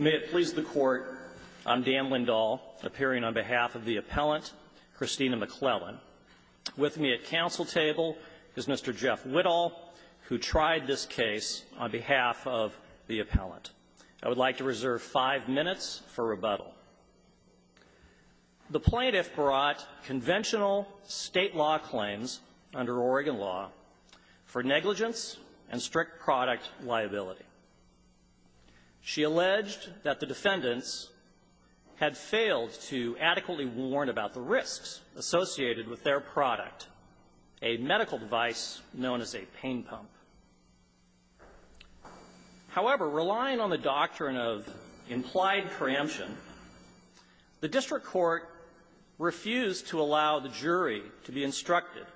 May it please the Court, I'm Dan Lindahl, appearing on behalf of the appellant, Christina McClellan. With me at counsel table is Mr. Jeff Whittle, who tried this case on behalf of the appellant. I would like to reserve five minutes for rebuttal. The plaintiff brought conventional state law claims under Oregon law for negligence and strict product liability. She alleged that the defendants had failed to adequately warn about the risks associated with their product, a medical device known as a pain pump. However, relying on the doctrine of implied preemption, the district court refused to allow the jury to be instructed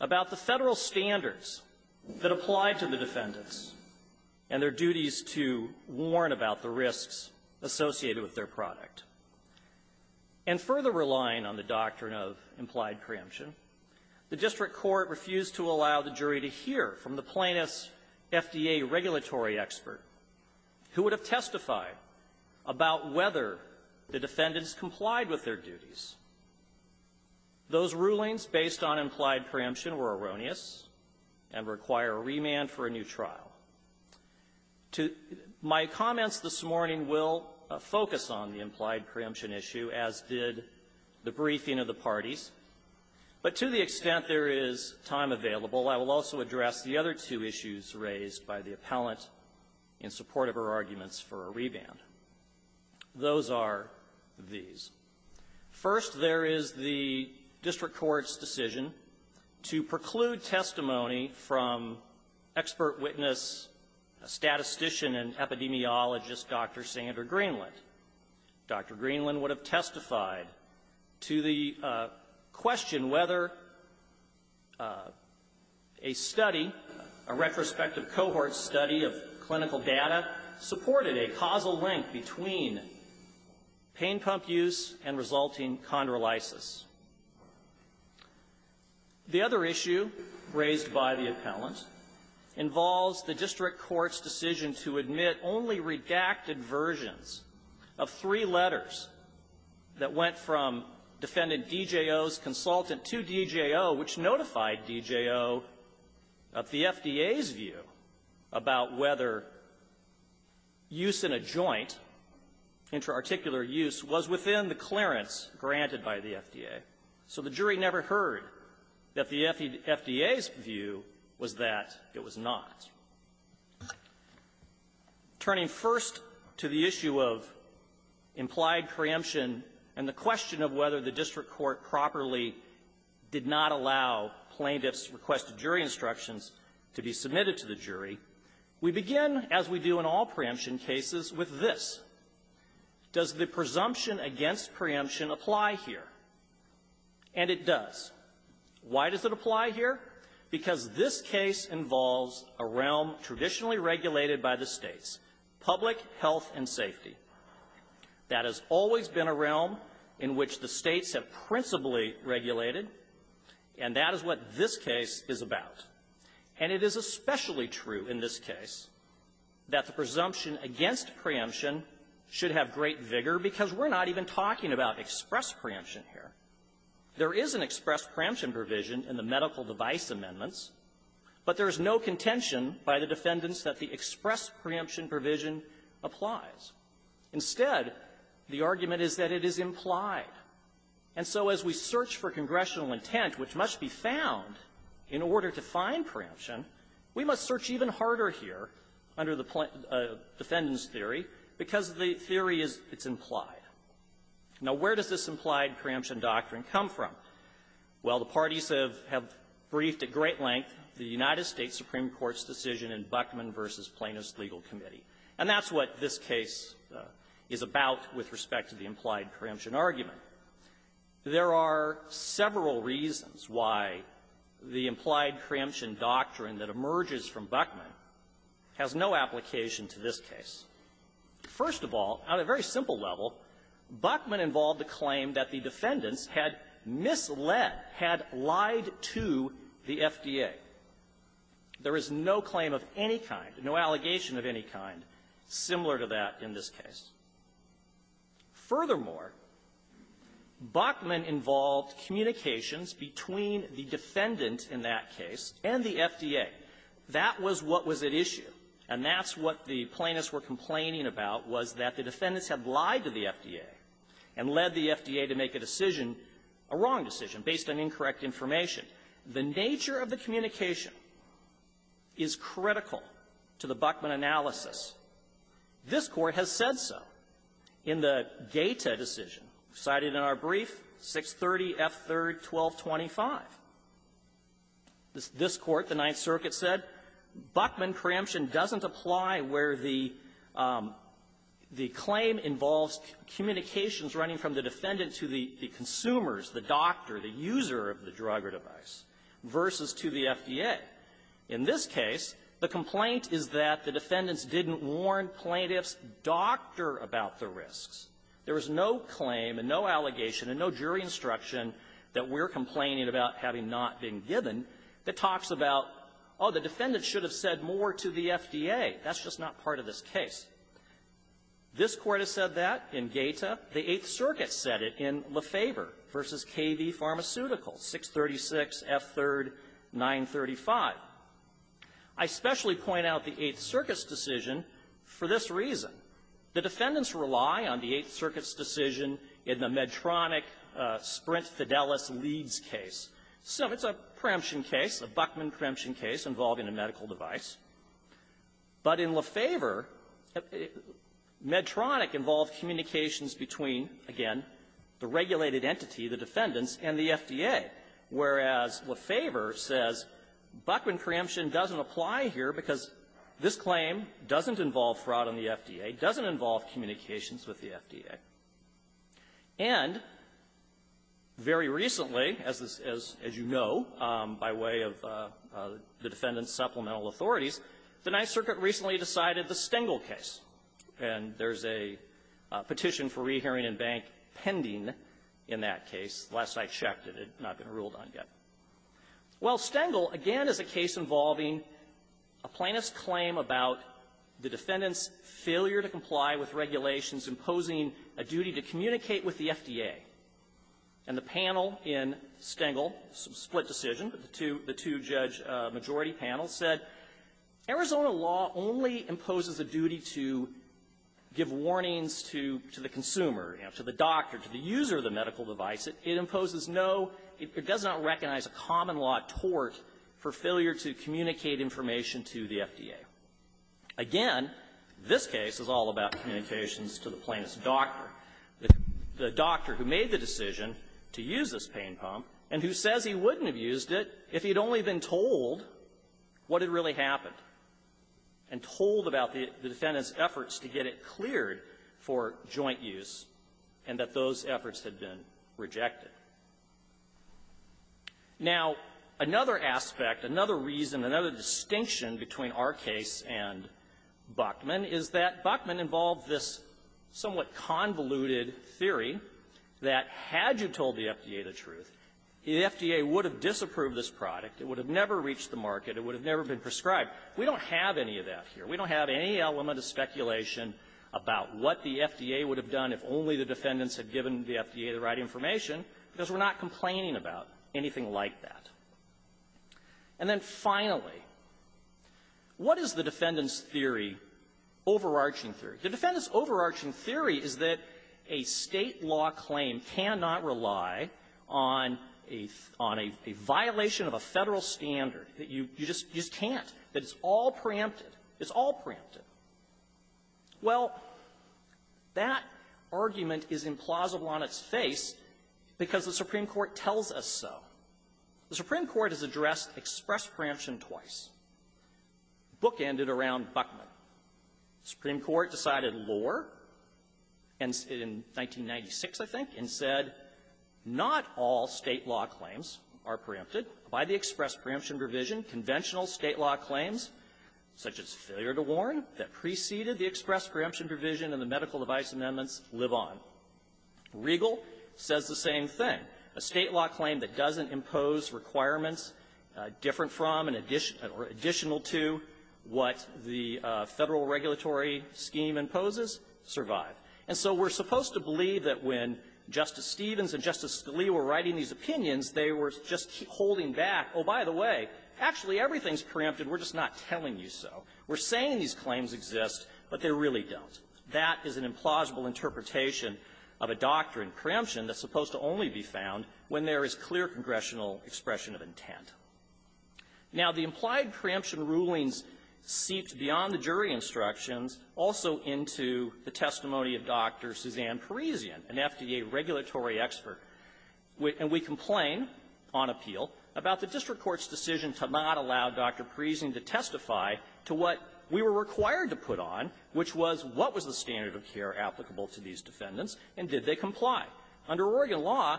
about the Federal standards that applied to the defendants and their duties to warn about the risks associated with their product. And further relying on the doctrine of implied preemption, the district court refused to allow the jury to hear from the plaintiff's FDA regulatory expert, who would have testified about whether the defendants complied with their duties. Those rulings based on implied preemption were erroneous and require a remand for a new trial. My comments this morning will focus on the implied preemption issue, as did the briefing of the parties, but to the extent there is time available, I will also address the other two issues raised by the appellant in support of her arguments for a remand. Those are these. First, there is the district court's decision to preclude testimony from expert witness, a statistician and epidemiologist, Dr. Sandra Greenland. Dr. Greenland would have testified to the question whether a study, a retrospective cohort study of clinical data, supported a causal link between pain pump use and resulting chondrolysis. The other issue raised by the appellant involves the district court's decision to admit only redacted versions of three letters that went from defendant DJO's consultant to DJO, which notified DJO of the FDA's view about whether use in a joint, intraarticular use, was within the clearance granted by the FDA. So the jury never heard that the FDA's view was that it was not. Turning first to the issue of implied preemption and the question of whether the district court properly did not allow plaintiffs' requested jury instructions to be submitted to the jury, we begin, as we do in all preemption cases, with this. Does the presumption against preemption apply here? And it does. Why does it apply here? Because this case involves a realm traditionally regulated by the States, public health and safety. That has always been a realm in which the States have principally regulated, and that is what this case is about. And it is especially true in this case that the presumption against preemption should have great vigor because we're not even talking about express preemption here. There is an express preemption provision in the medical device amendments, but there is no contention by the defendants that the express preemption provision applies. Instead, the argument is that it is implied. And so as we search for congressional intent, which must be found in order to find preemption, we must search even harder here under the defendant's theory because the theory is it's implied. Now, where does this implied preemption doctrine come from? Well, the parties have briefed at great length the United States Supreme Court's decision in Buckman v. Plaintiffs' Legal Committee, and that's what this case is about with respect to the implied preemption argument. There are several reasons why the implied preemption doctrine that emerges from Buckman has no application to this case. First of all, on a very simple level, Buckman involved the claim that the defendants had misled, had lied to the FDA. There is no claim of any kind, no allegation of any kind similar to that in this case. Furthermore, Buckman involved communications between the defendant in that case and the FDA. That was what was at issue, and that's what the plaintiffs were complaining about was that the defendants had lied to the FDA and led the FDA to make a decision, a wrong decision, based on incorrect information. The nature of the communication is critical to the Buckman analysis. This Court has said so in the data decision cited in our brief, 630F3-1225. This Court, the Ninth Circuit, said Buckman preemption doesn't apply where the claim involves communications running from the defendant to the consumers, the doctor, the user of the drug or device, versus to the FDA. In this case, the complaint is that the defendants didn't warn plaintiffs' doctor about the risks. There was no claim and no allegation and no jury instruction that we're complaining about having not been given that talks about, oh, the defendant should have said more to the FDA. That's just not part of this case. This Court has said that in GATA. The Eighth Circuit said it in Lefever v. KV Pharmaceutical, 636F3-935. I specially point out the Eighth Circuit's decision for this reason. The defendants rely on the Eighth Circuit's decision in the Medtronic Sprint Fidelis Leeds case. So it's a preemption case, a Buckman preemption case involving a medical device. But in Lefever, Medtronic involved communications between, again, the regulated entity, the defendants, and the FDA, whereas Lefever says Buckman preemption doesn't apply here because this claim doesn't involve fraud on the FDA, doesn't involve communications with the FDA. And very recently, as this is, as you know, by way of the defendant's supplemental authorities, the Ninth Circuit recently decided the Stengel case. And there's a Petition for Rehearing in Bank pending in that case. Last I checked, it had not been ruled on yet. Well, Stengel, again, is a case involving a plaintiff's claim about the defendant's failure to comply with regulations imposing a duty to communicate with the FDA. And the panel in Stengel split decision, the two judge majority panels, said Arizona law only imposes a duty to give warnings to the consumer, you know, to the doctor, to the user of the medical device. It imposes no – it does not recognize a common-law tort for failure to communicate information to the FDA. Again, this case is all about communications to the plaintiff's doctor, the doctor who made the decision to use this pain pump, and who says he wouldn't have used it if he had only been told what had really happened, and told about the defendant's efforts to get it cleared for joint use, and that those efforts had been rejected. Now, another aspect, another reason, another distinction between our case and Buckman is that Buckman involved this somewhat convoluted theory that had you told the FDA the truth, the FDA would have disapproved this product, it would have never reached the market, it would have never been prescribed. We don't have any of that here. We don't have any element of speculation about what the FDA would have done if only the defendants had given the FDA the right information, because we're not complaining about anything like that. And then, finally, what is the defendant's theory, overarching theory? The defendant's overarching theory is that a State law claim cannot rely on a – on a violation of a Federal standard, that you – you just – you just can't, that it's all preempted. It's all preempted. Well, that argument is implausible on its face because the Supreme Court tells us so. The Supreme Court has addressed express preemption twice. The book ended around Buckman. The Supreme Court decided lower, and in 1996, I think, and said not all State law claims are preempted by the express preemption provision. Conventional State law claims, such as failure to warn, that preceded the express preemption provision and the medical device amendments, live on. Regal says the same thing. A State law claim that doesn't impose requirements different from and additional to what the Federal regulatory scheme imposes survive. And so we're supposed to believe that when Justice Stevens and Justice Scalia were writing these opinions, they were just holding back, oh, by the way, actually, everything's preempted. We're just not telling you so. We're saying these claims exist, but they really don't. That is an implausible interpretation of a doctrine preemption that's supposed to only be found when there is clear congressional expression of intent. Now, the implied preemption rulings seeped beyond the jury instructions, also into the testimony of Dr. Suzanne Parisian, an FDA regulatory expert. And we complain on appeal about the district court's decision to not allow Dr. Parisian to speak on behalf of the to testify to what we were required to put on, which was, what was the standard of care applicable to these defendants, and did they comply? Under Oregon law,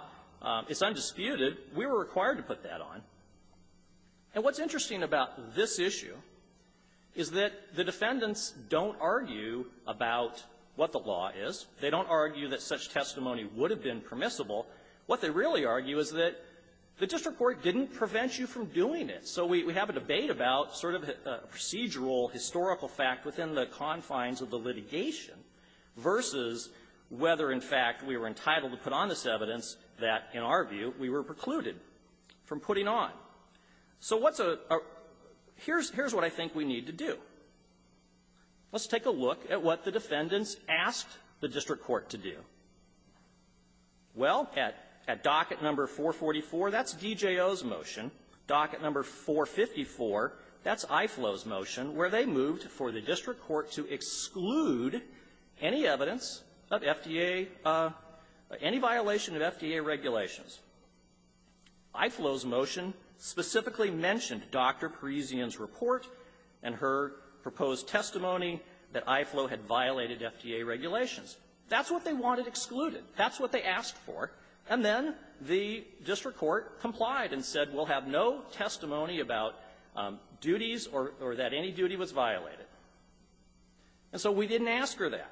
it's undisputed. We were required to put that on. And what's interesting about this issue is that the defendants don't argue about what the law is. They don't argue that such testimony would have been permissible. What they really argue is that the district court didn't prevent you from doing it. So we have a debate about sort of a procedural, historical fact within the confines of the litigation versus whether, in fact, we were entitled to put on this evidence that, in our view, we were precluded from putting on. So what's a --- here's what I think we need to do. Let's take a look at what the defendants asked the district court to do. Well, at docket number 444, that's DJO's motion. Docket number 444, that's IFLO's motion, where they moved for the district court to exclude any evidence of FDA any violation of FDA regulations. IFLO's motion specifically mentioned Dr. Parisian's report and her proposed testimony that IFLO had violated FDA regulations. That's what they wanted excluded. That's what they asked for. And then the district court complied and said we'll have no testimony about duties or that any duty was violated. And so we didn't ask her that.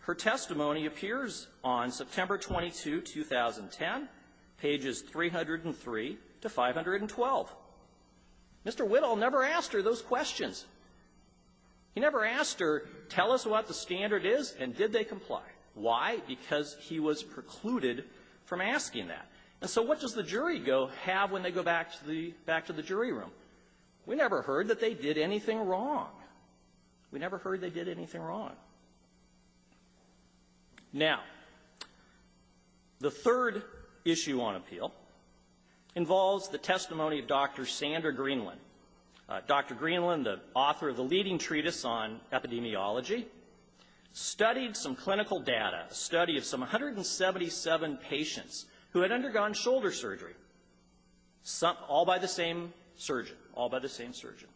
Her testimony appears on September 22, 2010, pages 303 to 512. Mr. Whittle never asked her those questions. He never asked her, tell us what the standard is, and did they comply. Why? Because he was have when they go back to the jury room. We never heard that they did anything wrong. We never heard they did anything wrong. Now, the third issue on appeal involves the testimony of Dr. Sandra Greenland. Dr. Greenland, the author of the leading treatise on epidemiology, studied some clinical data, a study of some 177 patients who had undergone shoulder surgery, all by the same surgeon, all by the same surgeon.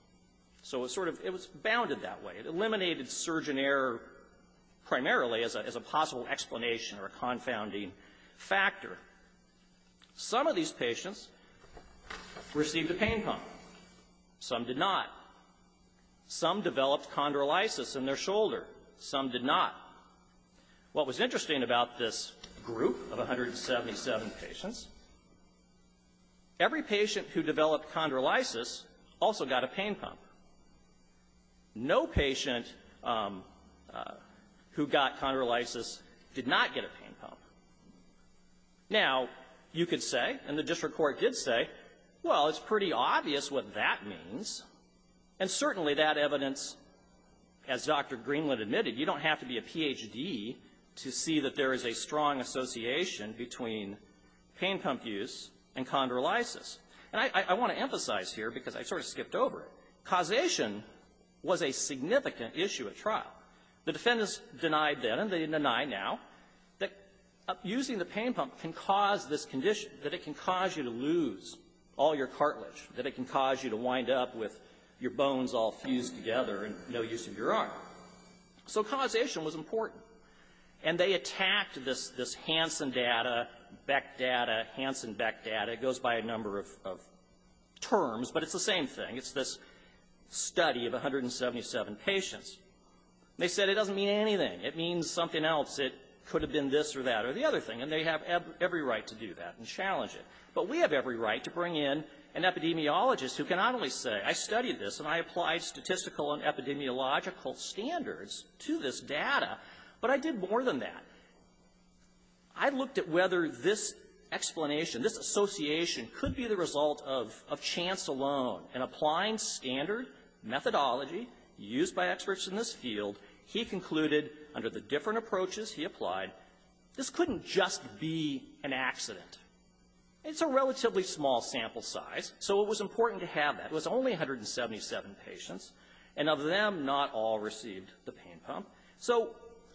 So it was sort of bounded that way. It eliminated surgeon error primarily as a possible explanation or a confounding factor. Some of these patients received a pain pump. Some did not. Some developed chondrolysis in their shoulder. Some did not. What was interesting about this group of 177 patients, every patient who developed chondrolysis also got a pain pump. No patient who got chondrolysis did not get a pain pump. Now, you could say, and the district court did say, well, it's pretty obvious what that means, and certainly that evidence, as Dr. Greenland admitted, you don't have to be a Ph.D. to see that there is a strong association between pain pump use and chondrolysis. And I want to emphasize here, because I sort of skipped over it, causation was a significant issue at trial. The defendants denied then, and they deny now, that using the pain pump can cause this condition, that it can cause you to lose all your cartilage, that it can cause you to wind up with your bones all fused together and no use of your arm. So causation was important. And they attacked this Hansen data, Beck data, Hansen-Beck data. It goes by a number of terms, but it's the same thing. It's this study of 177 patients. They said it doesn't mean anything. It means something else. It could have been this or that or the other thing, and they have every right to do that and challenge it. But we have every right to bring in an epidemiologist who can not only say, I studied this and I applied statistical and epidemiological standards to this data, but I did more than that. I looked at whether this explanation, this association, could be the result of chance alone. And applying standard methodology used by experts in this field, he concluded, under the different approaches he applied, this couldn't just be an accident. It's a relatively small sample size, so it was only 177 patients, and of them, not all received the pain pump. So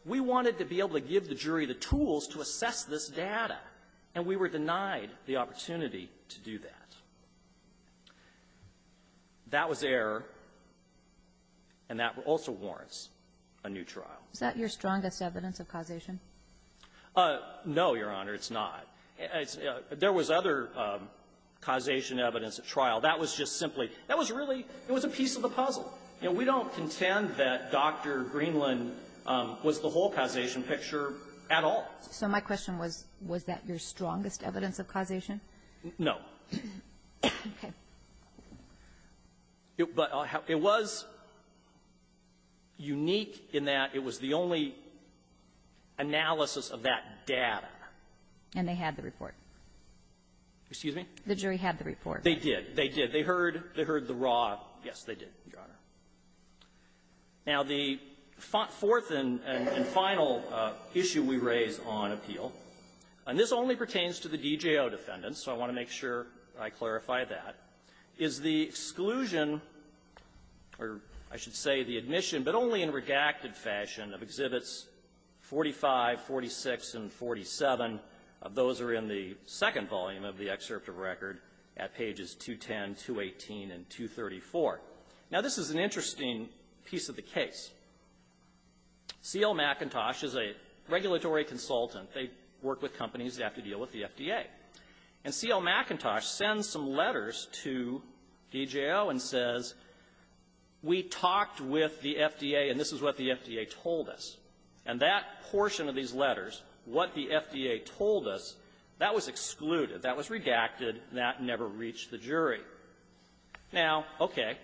we wanted to be able to give the jury the tools to assess this data, and we were denied the opportunity to do that. That was error, and that also warrants a new trial. Kagan. Is that your strongest evidence of causation? No, Your Honor, it's not. There was other causation evidence at trial. That was just simply, that was really, it was a piece of the puzzle. You know, we don't contend that Dr. Greenland was the whole causation picture at all. So my question was, was that your strongest evidence of causation? No. Okay. But it was unique in that it was the only analysis of that data. And they had the report. Excuse me? The jury had the report. They did. They did. They heard the raw. Yes, they did, Your Honor. Now, the fourth and final issue we raise on appeal, and this only pertains to the DJO defendants, so I want to make sure I clarify that, is the exclusion, or I should say the admission, but only in redacted fashion, of Exhibits 45, 46, and 47. Those are in the second volume of the excerpt of record at pages 210, 218, and 234. Now, this is an interesting piece of the case. C.L. McIntosh is a regulatory consultant. They work with companies that have to deal with the FDA. And C.L. McIntosh sends some letters to DJO and says, we talked with the FDA, and this is what the FDA told us. And that portion of these letters, what the FDA told us, that was excluded. That was redacted. That never reached the jury. Now, okay,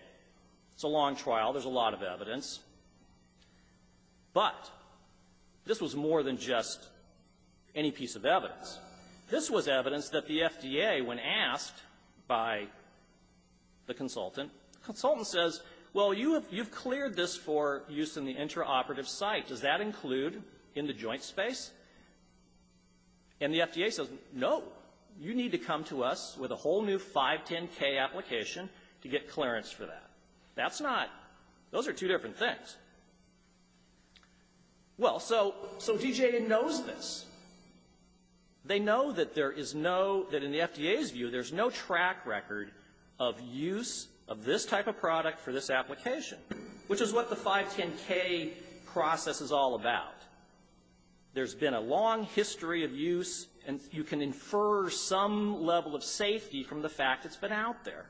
it's a long trial. There's a lot of evidence. But this was more than just any piece of evidence. This was evidence that the FDA, when asked by the consultant, the consultant says, well, you have cleared this for use in the interoperative site. Does that include in the joint space? And the FDA says, no. You need to come to us with a whole new 510K application to get clearance for that. That's not, those are two different things. Well, so, so DJO knows this. They know that there is no, that in the FDA's view, there's no track record of use of this type of product for this application, which is what the 510K process is all about. There's been a long history of use, and you can infer some level of safety from the fact that it's been out there.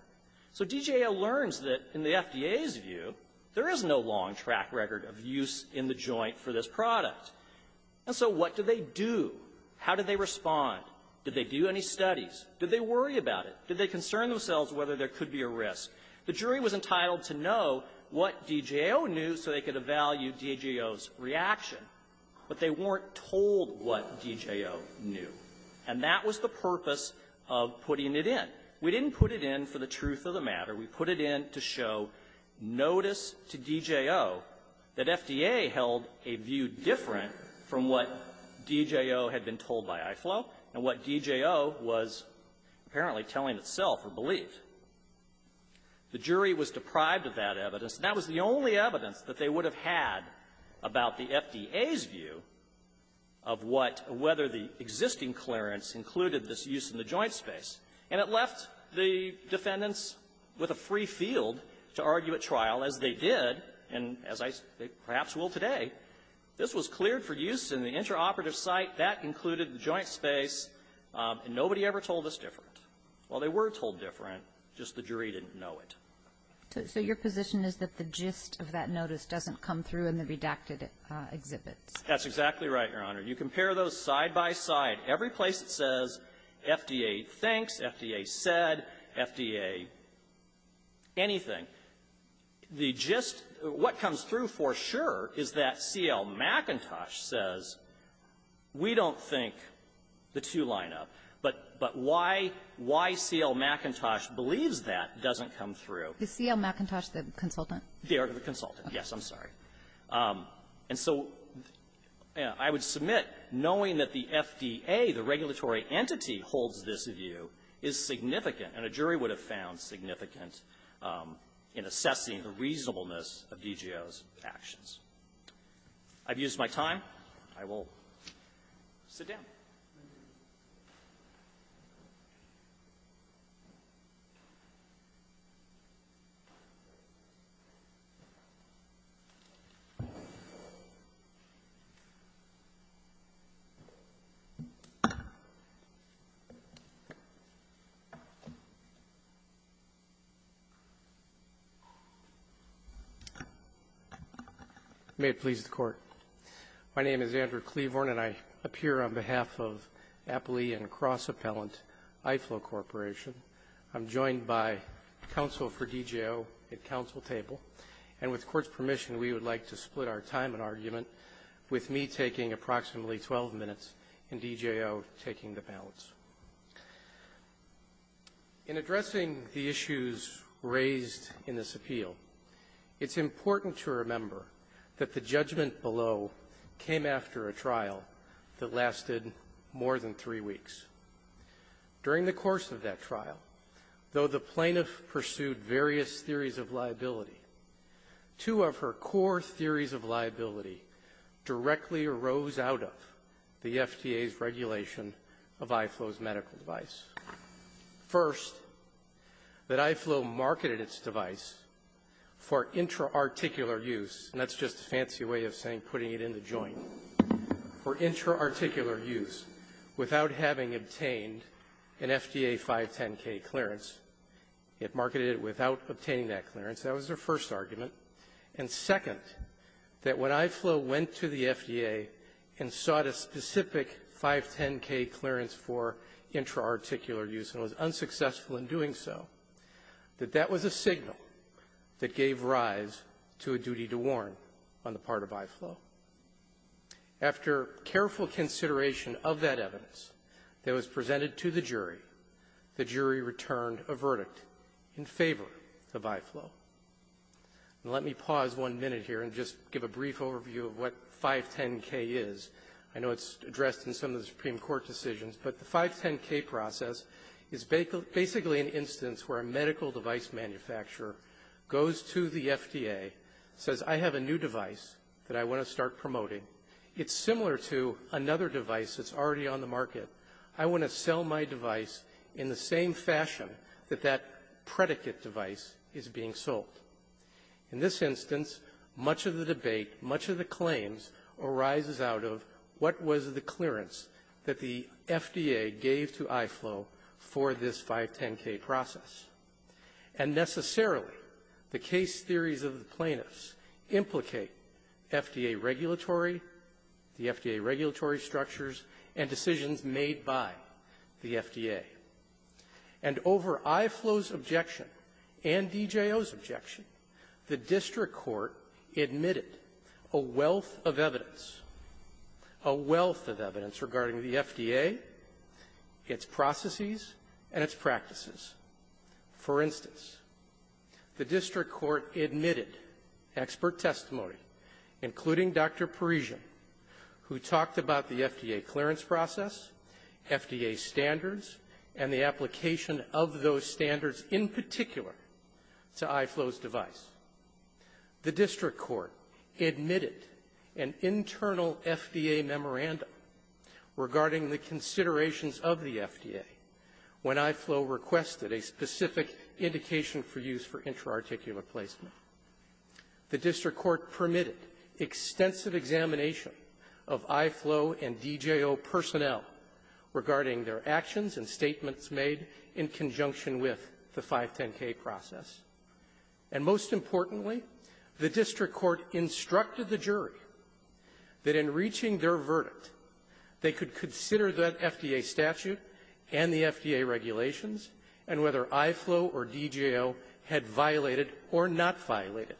So DJO learns that, in the FDA's view, there is no long track record of use in the joint for this product. And so what do they do? How do they respond? Did they do any studies? Did they worry about it? Did they concern themselves whether there could be a risk? The jury was entitled to know what DJO knew so they could evaluate DJO's reaction, but they weren't told what DJO knew. And that was the purpose of putting it in. We didn't put it in for the truth of the matter. We put it in to show, notice to DJO that FDA held a view different from what DJO had been told by IFLO and what DJO was apparently telling itself or believed. The jury was deprived of that evidence. That was the only evidence that they would have had about the FDA's view of what or whether the existing clearance included this use in the joint space. And it left the defendants with a free field to argue at trial, as they did, and as I perhaps will today. This was cleared for use in the intraoperative site. That included the joint space. And nobody ever told us different. Well, they were told different, just the jury didn't know it. So your position is that the gist of that notice doesn't come through in the redacted exhibits. That's exactly right, Your Honor. You compare those side by side. Every place it says FDA thinks, FDA said, FDA anything, the gist, what comes through for sure is that C.L. McIntosh says, we don't think the two line up. But why C.L. McIntosh believes that doesn't come through. Is C.L. McIntosh the consultant? They are the consultant. Yes. I'm sorry. And so I would submit, knowing that the FDA, the regulatory entity, holds this view is significant, and a jury would have found significant in assessing the reasonableness of DGO's actions. I've used my time. I will sit down. May it please the Court, my name is Andrew Cleavorn, and I appear on behalf of the Appley and Cross Appellant IFLO Corporation. I'm joined by counsel for DGO at counsel table. And with Court's permission, we would like to split our time and argument with me taking approximately 12 minutes and DGO taking the balance. In addressing the issues raised in this appeal, it's important to remember that the three weeks. During the course of that trial, though the plaintiff pursued various theories of liability, two of her core theories of liability directly arose out of the FDA's regulation of IFLO's medical device. First, that IFLO marketed its device for intra-articular use, and that's just a fancy way of saying putting it in the joint, for intra-articular use, without having obtained an FDA 510K clearance. It marketed it without obtaining that clearance. That was their first argument. And second, that when IFLO went to the FDA and sought a specific 510K clearance for intra-articular use and was unsuccessful in doing so, that that was a signal that gave rise to a duty to warn on the part of IFLO. After careful consideration of that evidence that was presented to the jury, the jury returned a verdict in favor of IFLO. Let me pause one minute here and just give a brief overview of what 510K is. I know it's addressed in some of the Supreme Court decisions, but the 510K process is basically an instance where a medical device manufacturer goes to the FDA, says, I have a new device that I want to start promoting. It's similar to another device that's already on the market. I want to sell my device in the same fashion that that predicate device is being sold. In this instance, much of the debate, much of the claims arises out of what was the clearance that the FDA gave to IFLO for this 510K process. And necessarily, the case theories of the plaintiffs implicate FDA regulatory, the FDA regulatory structures, and decisions made by the FDA. And over IFLO's objection and DJO's objection, the district court admitted a wealth of evidence, a wealth of evidence regarding the FDA, its processes and its practices. For instance, the district court admitted expert testimony, including Dr. Parisian, who talked about the FDA clearance process, FDA standards, and the application of those standards in particular to IFLO's device. The district court admitted an internal FDA memorandum regarding the considerations of the FDA when IFLO requested a specific indication for use for intra-articulate placement. The district court permitted extensive examination of IFLO and DJO personnel regarding their actions and statements made in conjunction with the 510K process. And most importantly, the district court instructed the jury that in reaching their verdict, they could consider that FDA statute and the FDA regulations and whether IFLO or DJO had violated or not violated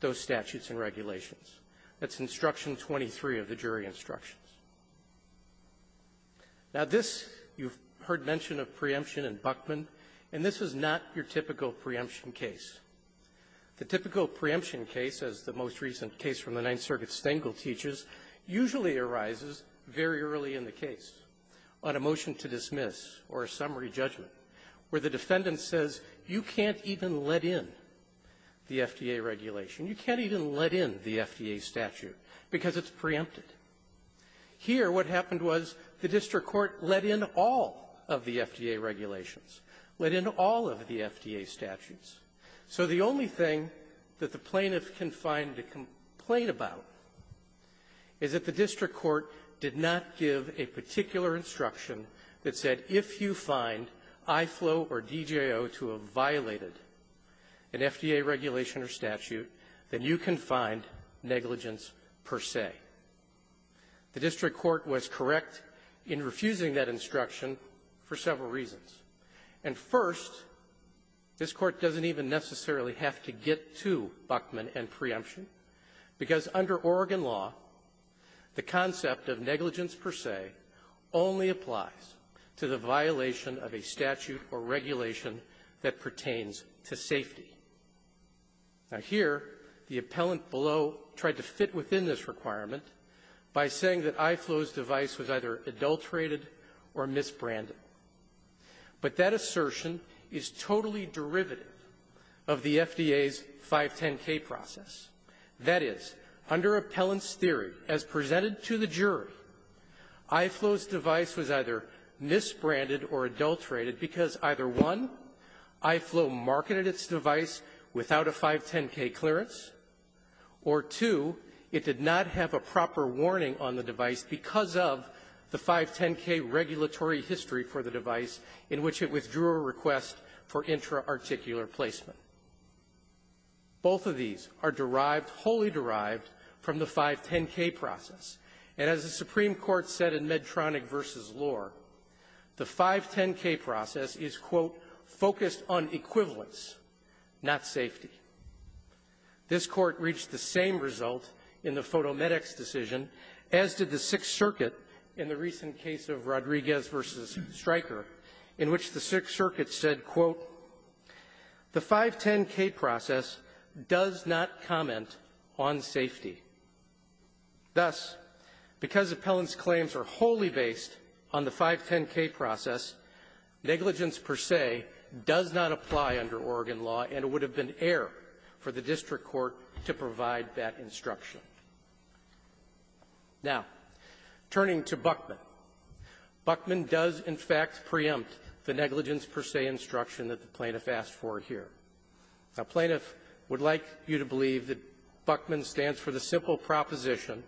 those statutes and regulations. That's Instruction 23 of the jury instructions. Now, this, you've heard mention of preemption in Buchman, and this is not your typical preemption case. The typical preemption case, as the most recent case from the Ninth Circuit Stengel teaches, usually arises very early in the case on a motion to dismiss or a summary judgment where the defendant says, you can't even let in the FDA regulation. You can't even let in the FDA statute because it's preempted. Here, what happened was the district court let in all of the FDA regulations, let in all of the FDA statutes. So the only thing that the plaintiff can find to complain about is that the district court did not give a particular instruction that said if you find IFLO or DJO to have violated an FDA regulation or statute, then you can find negligence per se. The district court was correct in refusing that instruction for several reasons. And first, this court doesn't even necessarily have to get to Buchman and preemption because under Oregon law, the concept of negligence per se only applies to the violation of a statute or regulation that pertains to safety. Now, here, the appellant below tried to fit within this requirement by saying that IFLO's device was either adulterated or misbranded. But that assertion is totally derivative of the FDA's 510K process. That is, under appellant's theory, as presented to the jury, IFLO's device was either misbranded or adulterated because either one, IFLO marketed its device without a 510K clearance, or two, it did not have a proper warning on the device because of the 510K regulatory history for the device in which it withdrew a request for intra-articular placement. Both of these are derived, wholly derived, from the case of Medtronic v. Lohr. The 510K process is, quote, focused on equivalence, not safety. This court reached the same result in the PhotoMedx decision, as did the Sixth Circuit in the recent case of Rodriguez v. Stryker, in which the Sixth Circuit said, quote, the 510K process does not comment on safety. Thus, because appellant's claims are wholly based on the 510K process, negligence per se does not apply under Oregon law, and it would have been error for the district court to provide that instruction. Now, turning to Buckman. Buckman does, in fact, preempt the negligence per se instruction that the plaintiff asked for here. Now, plaintiff would like you to believe that Buckman stands for the simple proposition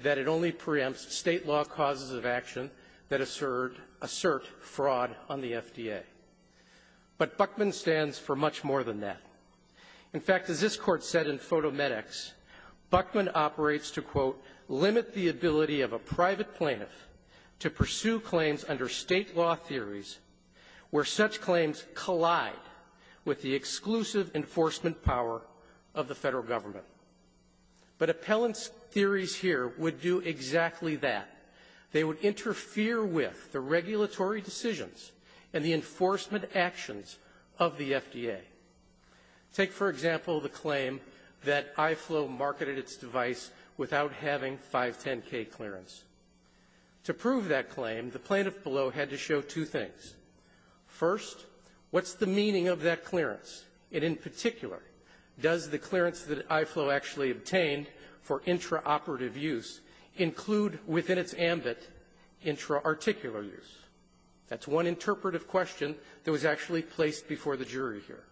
that it only preempts State law causes of action that assert fraud on the FDA. But Buckman stands for much more than that. In fact, as this Court said in PhotoMedx, Buckman operates to, quote, limit the ability of a private plaintiff to pursue claims under State law theories where such claims collide with the exclusive enforcement power of the Federal Government. But appellant's theories here would do exactly that. They would interfere with the regulatory decisions and the enforcement actions of the FDA. Take, for example, the claim that iFlow marketed its device without having a 510K clearance. To prove that claim, the plaintiff below had to show two things. First, what's the meaning of that clearance? And in particular, does the clearance that iFlow actually obtained for intraoperative use include within its ambit intraarticular use? That's one interpretive question that was actually placed before the jury here.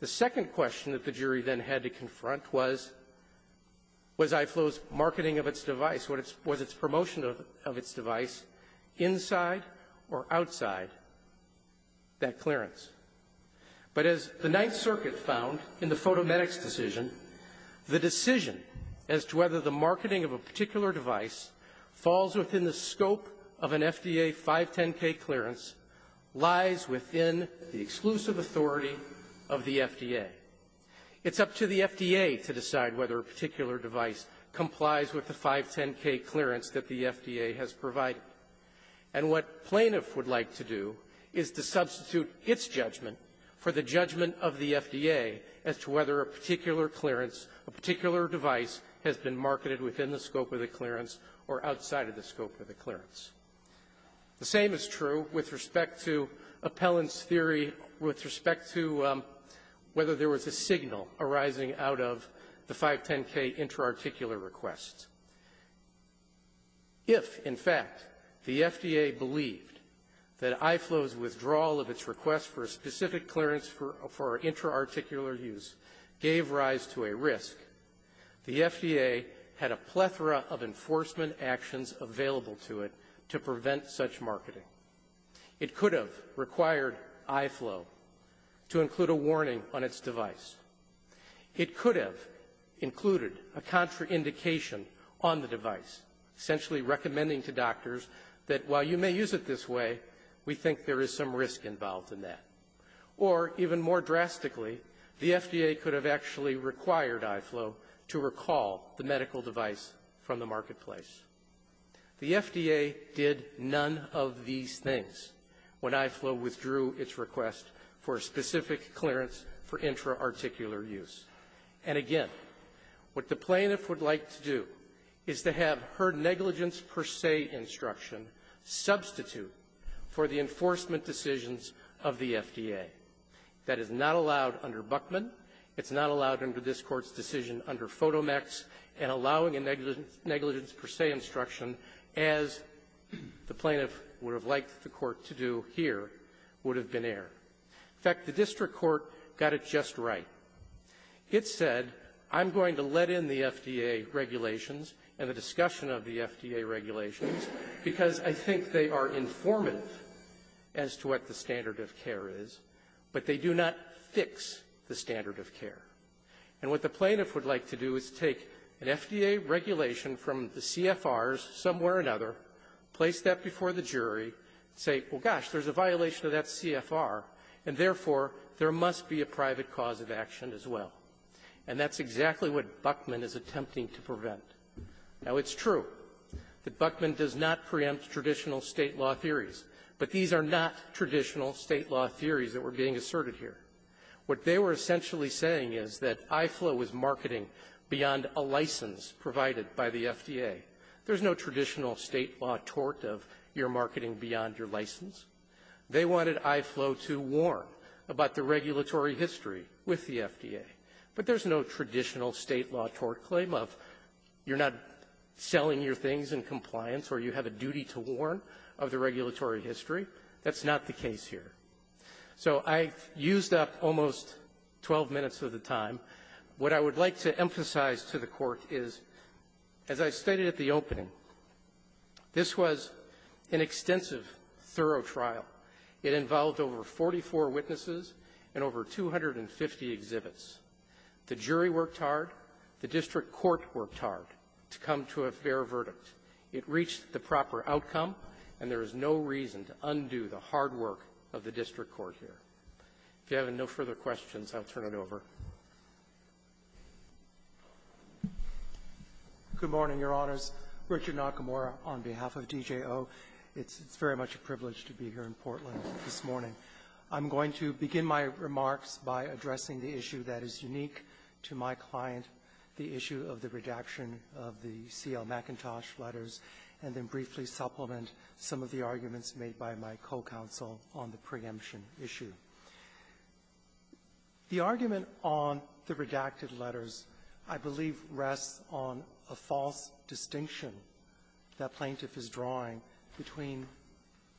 The second question that the jury then had to confront was, was iFlow's marketing of its device, was its promotion of its device inside or outside that clearance? But as the Ninth Circuit found in the PhotoMedx decision, the decision as to whether the marketing of a particular device falls within the scope of an FDA 510K clearance lies within the exclusive authority of the FDA. It's up to the FDA to decide whether a particular device complies with the 510K clearance that the FDA has provided. And what plaintiff would like to do is to substitute its judgment for the judgment of the FDA as to whether a particular clearance, a particular device has been marketed within the scope of the clearance or outside of the scope of the clearance. The same is true with respect to appellant's theory with respect to whether there was a signal arising out of the 510K intraarticular requests. If, in fact, the FDA believed that iFlow's withdrawal of its request for a specific clearance for intraarticular use gave rise to a risk, the FDA had a plethora of enforcement actions available to it to prevent such marketing. It could have required iFlow to include a warning on its device. It could have included a contraindication on the device, essentially recommending to doctors that while you may use it this way, we think there is some risk involved in that. Or, even more drastically, the FDA could have actually required iFlow to recall the medical device from the marketplace. The FDA did none of these things when iFlow withdrew its request for a specific clearance for intraarticular use. And, again, what the plaintiff would like to do is to have her negligence per se instruction substitute for the enforcement decisions of the FDA. That is not allowed under Buchman. It's not allowed under this Court's decision under Fotomex. And allowing a negligence per se instruction, as the plaintiff would have liked the Court to do here, would have been error. In fact, the district court got it just right. It said, I'm going to let in the FDA regulations and the discussion of the FDA regulations, because I think they are informative as to what the standard of care is, but they do not fix the standard of care. And what the plaintiff would like to do is take an FDA regulation from the CFRs, somewhere or another, place that before the jury, say, well, gosh, there's a violation of that CFR, and therefore, there must be a private cause of action as well. And that's exactly what Buchman is attempting to prevent. Now, it's true that Buchman does not preempt traditional State law theories, but these are not traditional State law theories that were being asserted here. What they were essentially saying is that iFlow was marketing beyond a license provided by the FDA. There's no traditional State law tort of your what the regulatory history with the FDA. But there's no traditional State law tort claim of you're not selling your things in compliance or you have a duty to warn of the regulatory history. That's not the case here. So I used up almost 12 minutes of the time. What I would like to emphasize to the Court is, as I stated at the beginning of the hearing, there is no reason to undo the hard work of the district court here. If you have no further questions, I'll turn it over. Good morning, Your Honors. Richard Nakamura on behalf of DJO. It's very much a privilege to be here in Portland this morning. I'm going to begin my remarks by addressing the issue that is unique to my client, the issue of the redaction of the C.L. McIntosh letters, and then briefly supplement some of the arguments made by my co-counsel on the preemption issue. The argument on the redacted letters, I believe, rests on a false distinction that plaintiff is drawing between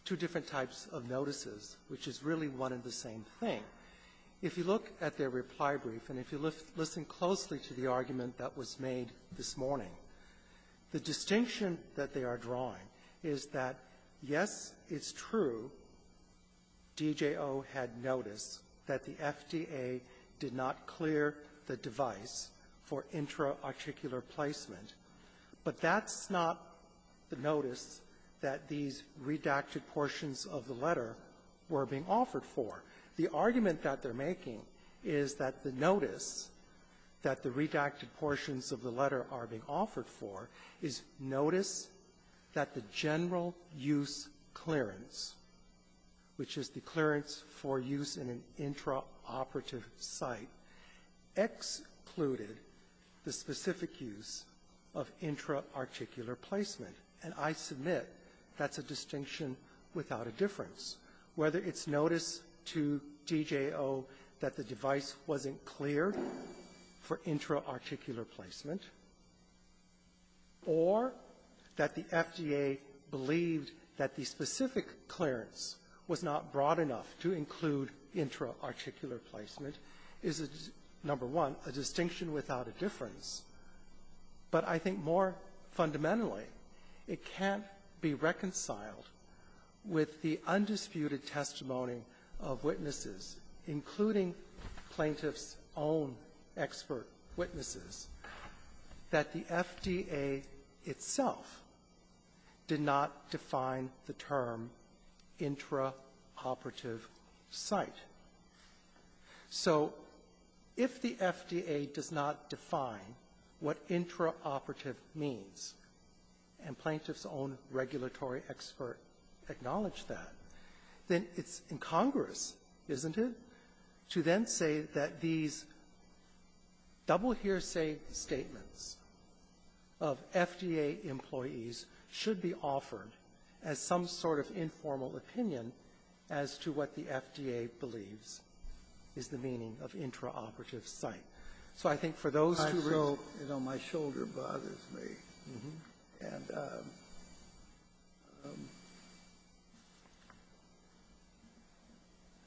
two different types of notices, which is really one and the same thing. If you look at their reply brief and if you listen closely to the argument that was made this morning, the distinction that they are drawing is that, yes, it's true, DJO had noticed that the FDA did not clear the device for intraarticular placement, but that's not the notice that these redacted portions of the letter were being offered for. The argument that they're making is that the notice that the redacted portions of the letter are being offered for is notice that the general use clearance, which is the clearance for use in an intraoperative site, excluded the specific use of intraarticular placement. And I submit that's a distinction without a difference, whether it's notice to DJO that the device wasn't cleared for intraarticular placement or that the FDA believed that the specific clearance was not broad enough to include intraarticular placement is, number one, a distinction without a difference. But I think more fundamentally, it can't be reconciled with the undisputed testimony of witnesses, including plaintiff's own expert witnesses, that the FDA itself did not define the term intraoperative site. So if the FDA does not define what intraoperative means, and plaintiff's own regulatory expert acknowledged that, then it's incongruous, isn't it, to then say that these double hearsay statements of FDA employees should be offered as some sort of interoperative site. So I think for those two reasons ‑‑ DR. SCHUNEMANN I know my shoulder bothers me. And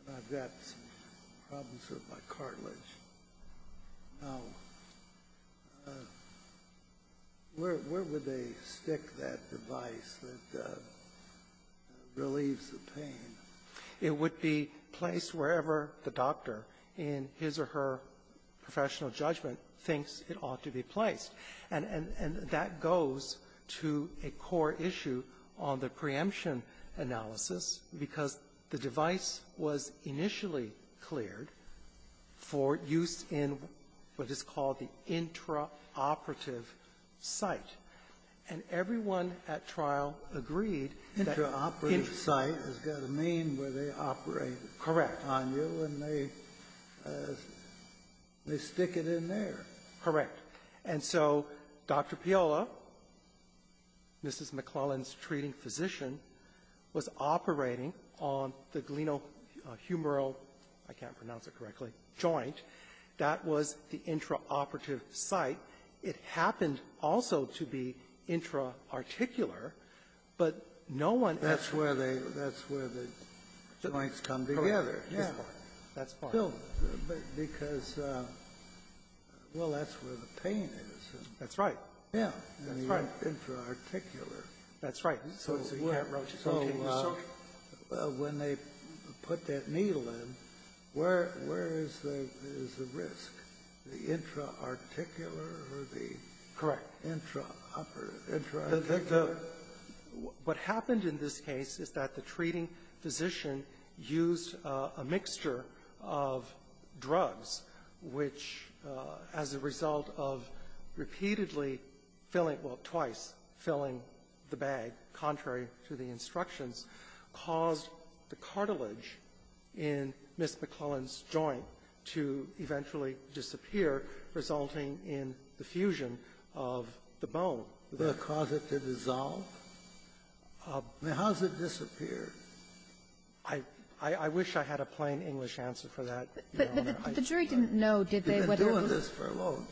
I've got some problems with my cartilage. Now, where would they stick that device that relieves the pain? It would be placed wherever the doctor in his or her professional judgment thinks it ought to be placed. And that goes to a core issue on the preemption analysis, because the device was initially cleared for use in what is called the intraoperative site. And everyone at trial agreed that ‑‑ Kennedy. Interoperative site has got to mean where they operate on you, and they stick it in there. DR. SCHUNEMANN Correct. And so Dr. Piola, Mrs. McClellan's treating physician, was operating on the glenohumeral ‑‑ I can't pronounce it correctly ‑‑ joint. That was the intraoperative site. It happened also to be intraarticular, but no one ‑‑ DR. SCHUNEMANN That's where they ‑‑ that's where the joints come together. Yeah. Because, well, that's where the pain is. DR. SCHUNEMANN That's right. Intraarticular. DR. SCHUNEMANN That's right. So when they put that needle in, where is the risk? The intraarticular or the ‑‑ DR. SCHUNEMANN ‑‑ intraoperative. Intraarticular. DR. SCHUNEMANN The ‑‑ what happened in this case is that the treating physician used a mixture of drugs, which, as a result of repeatedly filling ‑‑ well, twice filling the bag, contrary to the instructions, caused the cartilage in Ms. McClellan's joint to eventually disappear, resulting in the fusion of the bone. Would that cause it to dissolve? I mean, how does it disappear? DR. SCHUNEMANN I wish I had a plain English answer for that, Your Honor. But the jury didn't know, did they, whether it was ‑‑ You've been doing this for a long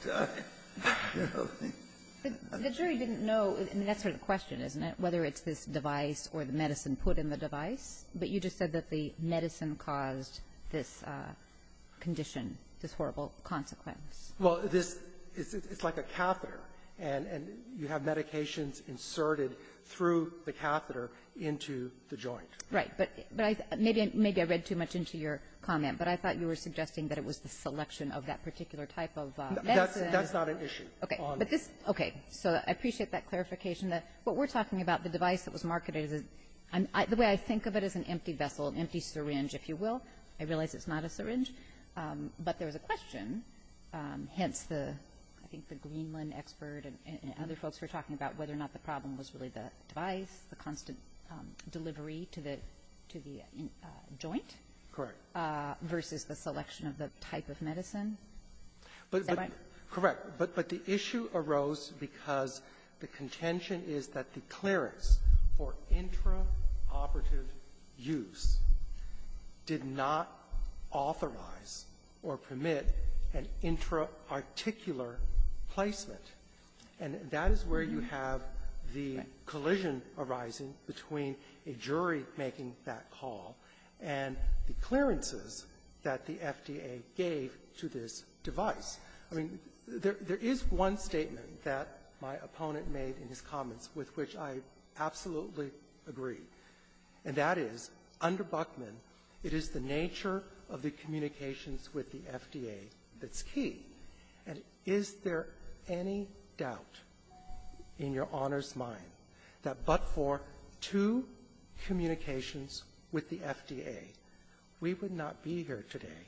time. The jury didn't know, and that's sort of the question, isn't it, whether it's this device or the medicine put in the device? But you just said that the medicine caused this condition, this horrible consequence. DR. SCHUNEMANN Well, this ‑‑ it's like a catheter, and you have medications inserted through the catheter into the joint. DR. KAYESS Right. But maybe I read too much into your comment, but I thought you were suggesting that it was the selection of that particular type of medicine. DR. SCHUNEMANN That's not an issue. DR. KAYESS Okay. Okay. So I appreciate that clarification. I just want to mention that what we're talking about, the device that was marketed is ‑‑ the way I think of it is an empty vessel, an empty syringe, if you will. I realize it's not a syringe, but there was a question, hence the ‑‑ I think the Greenland expert and other folks were talking about whether or not the problem was really the device, the constant delivery to the ‑‑ to the joint. DR. SCHUNEMAN Correct. DR. KAYESS Versus the selection of the type of medicine. Is that right? DR. SCHUNEMAN Correct. But the issue arose because the contention is that the clearance for intraoperative use did not authorize or permit an intraarticular placement. And that is where you have the collision arising between a jury making that call and the clearances that the FDA gave to this device. I mean, there is one statement that my opponent made in his comments with which I absolutely agree, and that is, under Buchman, it is the nature of the communications with the FDA that's key. And is there any doubt in Your Honor's mind that but for two communications with the FDA, we would not be here today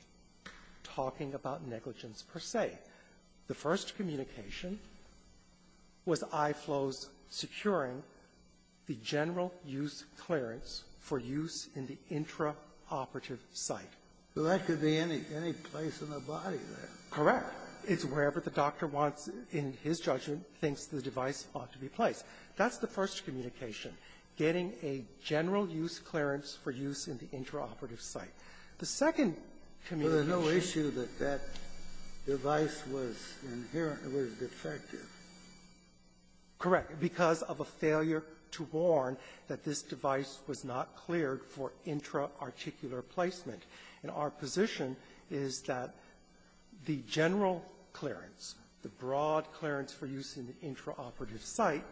talking about negligence per se. The first communication was IFLO's securing the general use clearance for use in the DR. SCHUNEMAN So that could be any place in the body, then. DR. SCHUNEMAN Correct. It's wherever the doctor wants, in his judgment, thinks the device ought to be placed. That's the first communication, getting a general use clearance for use in the intraoperative site. The second communication was that the device was inherently defective. Correct. Because of a failure to warn that this device was not cleared for intraarticular placement. And our position is that the general clearance, the broad clearance for use in the DR. SCHUNEMAN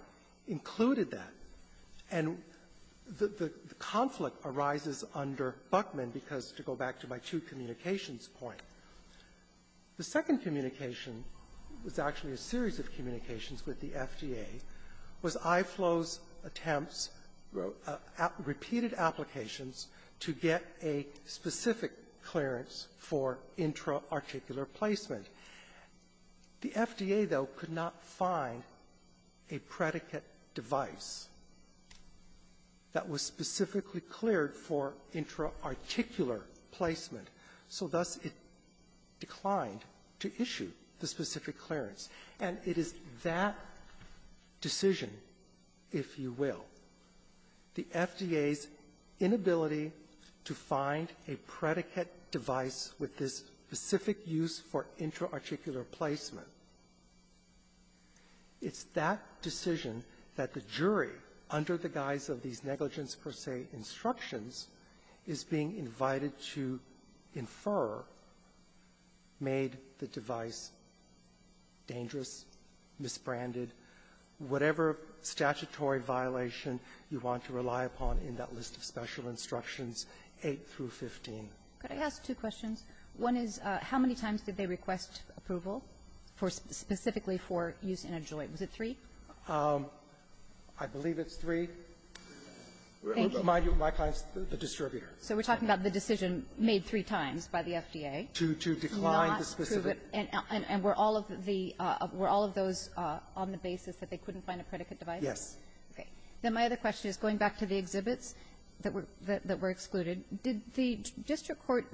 included that, and the conflict arises under Buchman because, to go back to my two communications point, the second communication was actually a series of communications with the FDA, was IFLO's attempts, repeated applications, to get a specific clearance for intraarticular placement. The FDA, though, could not find a predicate device that was specifically cleared for intraarticular placement, so thus it declined to issue the specific clearance. And it is that decision, if you will, the FDA's inability to find a predicate device with this specific use for intraarticular placement, it's that decision that the jury, under the guise of these negligence per se instructions, is being invited to infer made the device dangerous, misbranded, whatever statutory violation you want to rely upon in that list of special instructions, 8 through 15. Kagan. Could I ask two questions? One is, how many times did they request approval for specifically for use in a joint? Was it three? I believe it's three. My client's the distributor. So we're talking about the decision made three times by the FDA. To decline the specific. And were all of the – were all of those on the basis that they couldn't find a predicate device? Yes. Okay. Then my other question is going back to the exhibits that were excluded, did the district court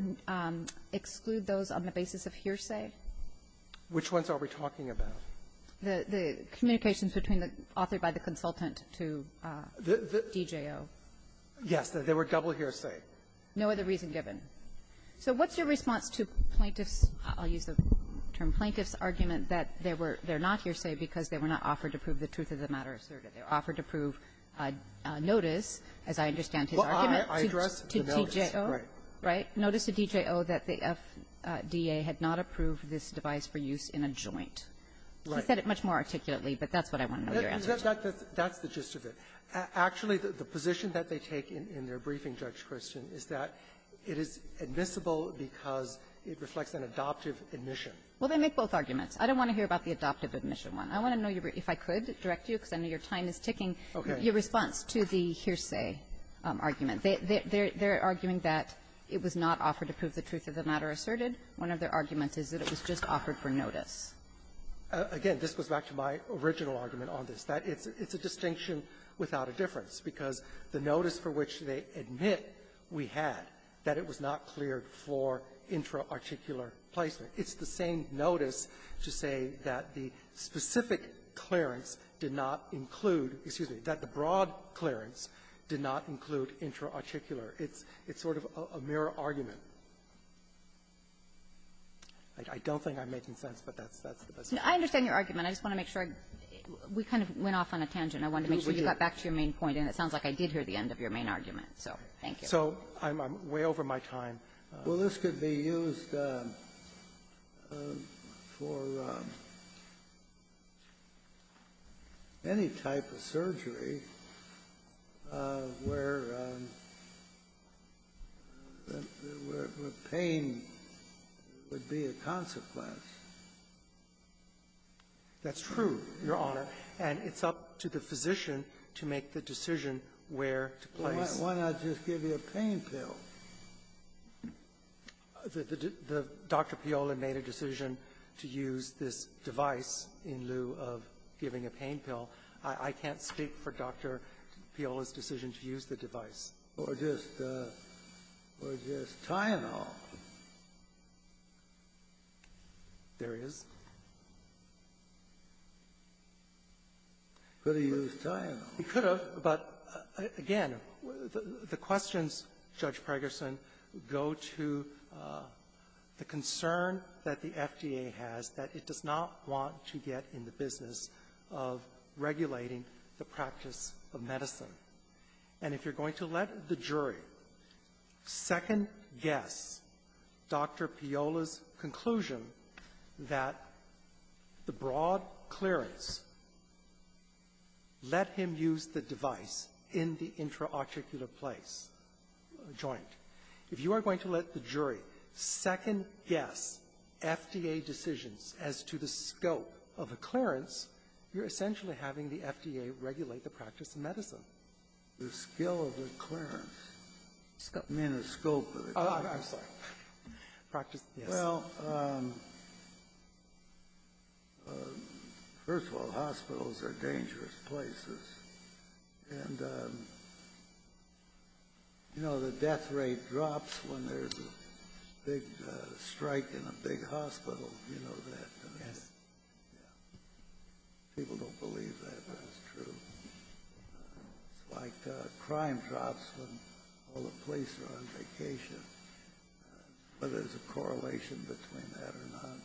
exclude those on the basis of hearsay? Which ones are we talking about? The communications between the author by the consultant to DJO. Yes. They were double hearsay. No other reason given. So what's your response to plaintiffs' – I'll use the term plaintiffs' argument that they were not hearsay because they were not offered to prove the truth of the matter asserted. They were offered to prove notice, as I understand his argument, to DJO. Well, I address the notice, right. Right. Notice to DJO that the FDA had not approved this device for use in a joint. Right. He said it much more articulately, but that's what I want to know your answer to. That's the gist of it. Actually, the position that they take in their briefing, Judge Kirsten, is that it is admissible because it reflects an adoptive admission. Well, they make both arguments. I don't want to hear about the adoptive admission one. I want to know if I could direct you, because I know your time is ticking. Okay. Your response to the hearsay argument. They're arguing that it was not offered to prove the truth of the matter asserted. One of their arguments is that it was just offered for notice. Again, this goes back to my original argument on this. That it's a distinction without a difference, because the notice for which they admit we had, that it was not cleared for intraarticular placement. It's the same notice to say that the specific clearance did not include, excuse me, that the broad clearance did not include intraarticular. It's sort of a mirror argument. I don't think I'm making sense, but that's the best I can do. I understand your argument. I just want to make sure we kind of went off on a tangent. I wanted to make sure you got back to your main point. And it sounds like I did hear the end of your main argument, so thank you. So I'm way over my time. Well, this could be used for any type of surgery where pain would be a consequence. That's true, Your Honor. And it's up to the physician to make the decision where to place. Why not just give you a pain pill? The Dr. Piola made a decision to use this device in lieu of giving a pain pill. I can't speak for Dr. Piola's decision to use the device. Or just Tyenol. There is. Could have used Tyenol. It could have, but again. The questions, Judge Pegerson, go to the concern that the FDA has that it does not want to get in the business of regulating the practice of medicine. And if you're going to let the jury second-guess Dr. Piola's conclusion that the joint, if you are going to let the jury second-guess FDA decisions as to the scope of a clearance, you're essentially having the FDA regulate the practice of medicine. The skill of the clearance. I mean, the scope of it. Oh, I'm sorry. Practice, yes. Well, first of all, hospitals are dangerous places. And, you know, the death rate drops when there's a big strike in a big hospital. You know that. Yes. Yeah. People don't believe that, but it's true. It's like crime drops when all the police are on vacation. Whether there's a correlation between that or not,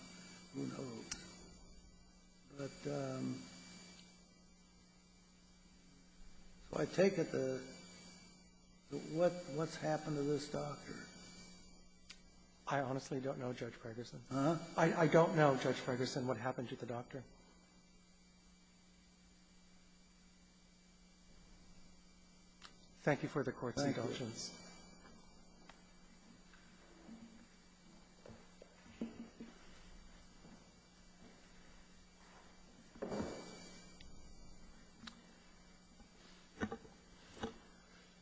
who knows? But I take it the what's happened to this doctor? I honestly don't know, Judge Pegerson. Huh? I don't know, Judge Pegerson, what happened to the doctor. Thank you for the court's indulgence.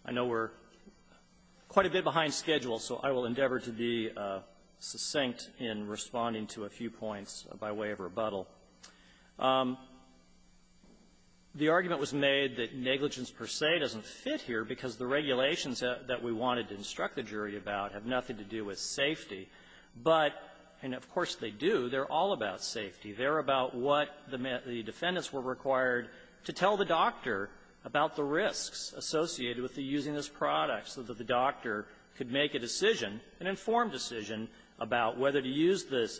I know we're quite a bit behind schedule, so I will endeavor to be succinct in responding to a few points by way of rebuttal. The argument was made that negligence per se doesn't fit here because the regulations that we wanted to instruct the jury about have nothing to do with safety. But, and of course they do, they're all about safety. They're about what the defendants were required to tell the doctor about the risks associated with using this product so that the doctor could make a decision, an informed decision about whether to use this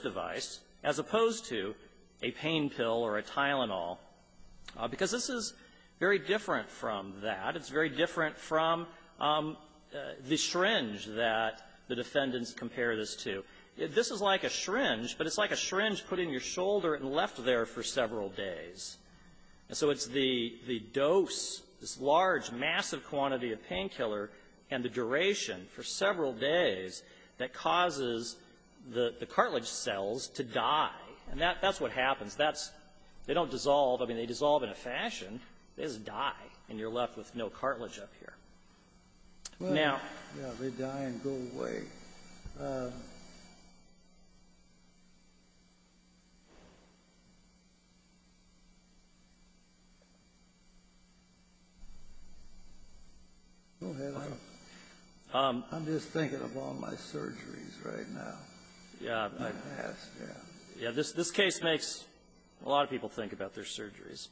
device as opposed to a pain pill or a Tylenol. Because this is very different from that. It's very different from the syringe that the defendants compare this to. This is like a syringe, but it's like a syringe put in your shoulder and left there for several days. So it's the dose, this large, massive quantity of painkiller and the duration for several days that causes the cartilage cells to die. And that's what happens. That's they don't dissolve. I mean, they dissolve in a fashion. They just die, and you're left with no cartilage up here. Now ---- Kennedy, they die and go away. I'm just thinking of all my surgeries right now. Yeah. This case makes a lot of people think about their surgeries.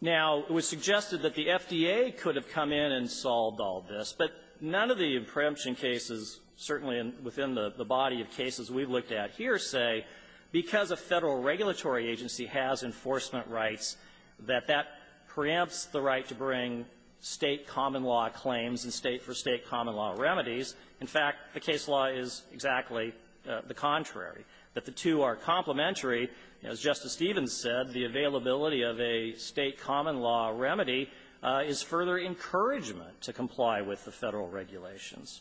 Now, it was suggested that the FDA could have come in and solved all this, but none of the preemption cases, certainly within the body of cases we've looked at here, say because a Federal regulatory agency has enforcement rights that that preempts the right to bring State common law remedies. In fact, the case law is exactly the contrary, that the two are complementary. As Justice Stevens said, the availability of a State common law remedy is further encouragement to comply with the Federal regulations.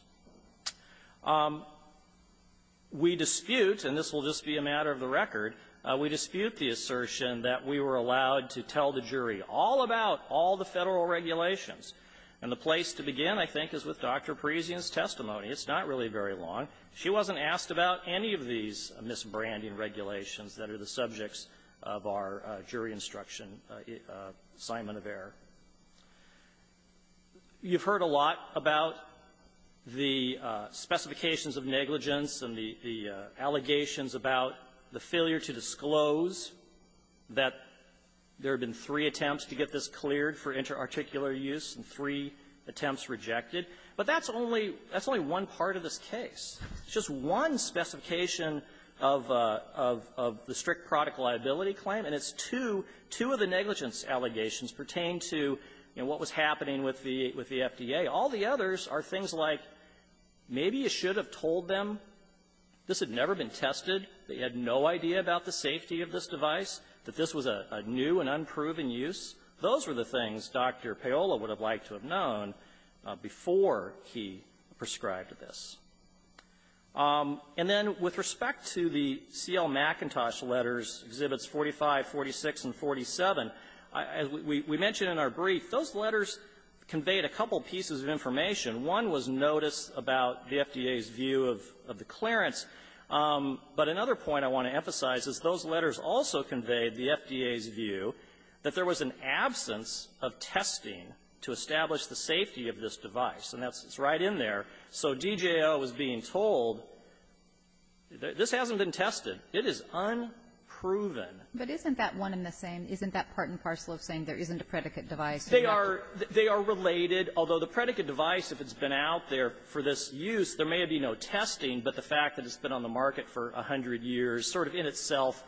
We dispute, and this will just be a matter of the record, we dispute the assertion that we were allowed to tell the jury all about all the Federal regulations. And the place to begin, I think, is with Dr. Parisian's testimony. It's not really very long. She wasn't asked about any of these misbranding regulations that are the subjects of our jury instruction assignment of error. You've heard a lot about the specifications of negligence and the allegations about the failure to disclose that there have been three attempts to get this cleared for interarticular use and three attempts rejected. But that's only one part of this case. It's just one specification of the strict product liability claim, and it's two of the negligence allegations pertaining to what was happening with the FDA. All the others are things like maybe you should have told them this had never been tested, they had no idea about the safety of this device, that this was a new and unproven use. Those were the things Dr. Paola would have liked to have known before he prescribed this. And then with respect to the C.L. McIntosh letters, Exhibits 45, 46, and 47, as we mentioned in our brief, those letters conveyed a couple pieces of information. One was notice about the FDA's view of the clearance. But another point I want to emphasize is those letters also conveyed the FDA's view that there was an absence of testing to establish the safety of this device. And that's right in there. So DJO is being They are related, although the predicate device, if it's been out there for this use, there may be no testing, but the fact that it's been on the market for a hundred years sort of in itself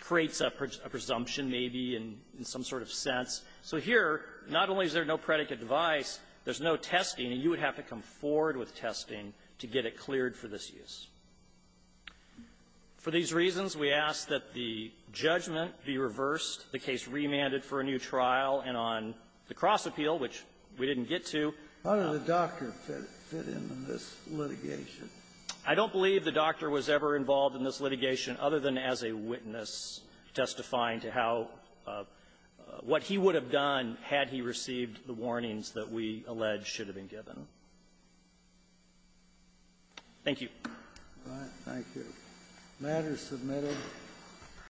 creates a presumption maybe in some sort of sense. So here, not only is there no predicate device, there's no testing, and you would have to come forward with testing to get it cleared for this use. For these reasons, we ask that the judgment be reversed, the case remanded for a new trial, and on the cross-appeal, which we didn't get to ---- Kennedy. How did the doctor fit in on this litigation? Waxman. I don't believe the doctor was ever involved in this litigation other than as a witness testifying to how what he would have done had he received the warnings that we allege should have been given. Thank you. Thank you. Matter is submitted.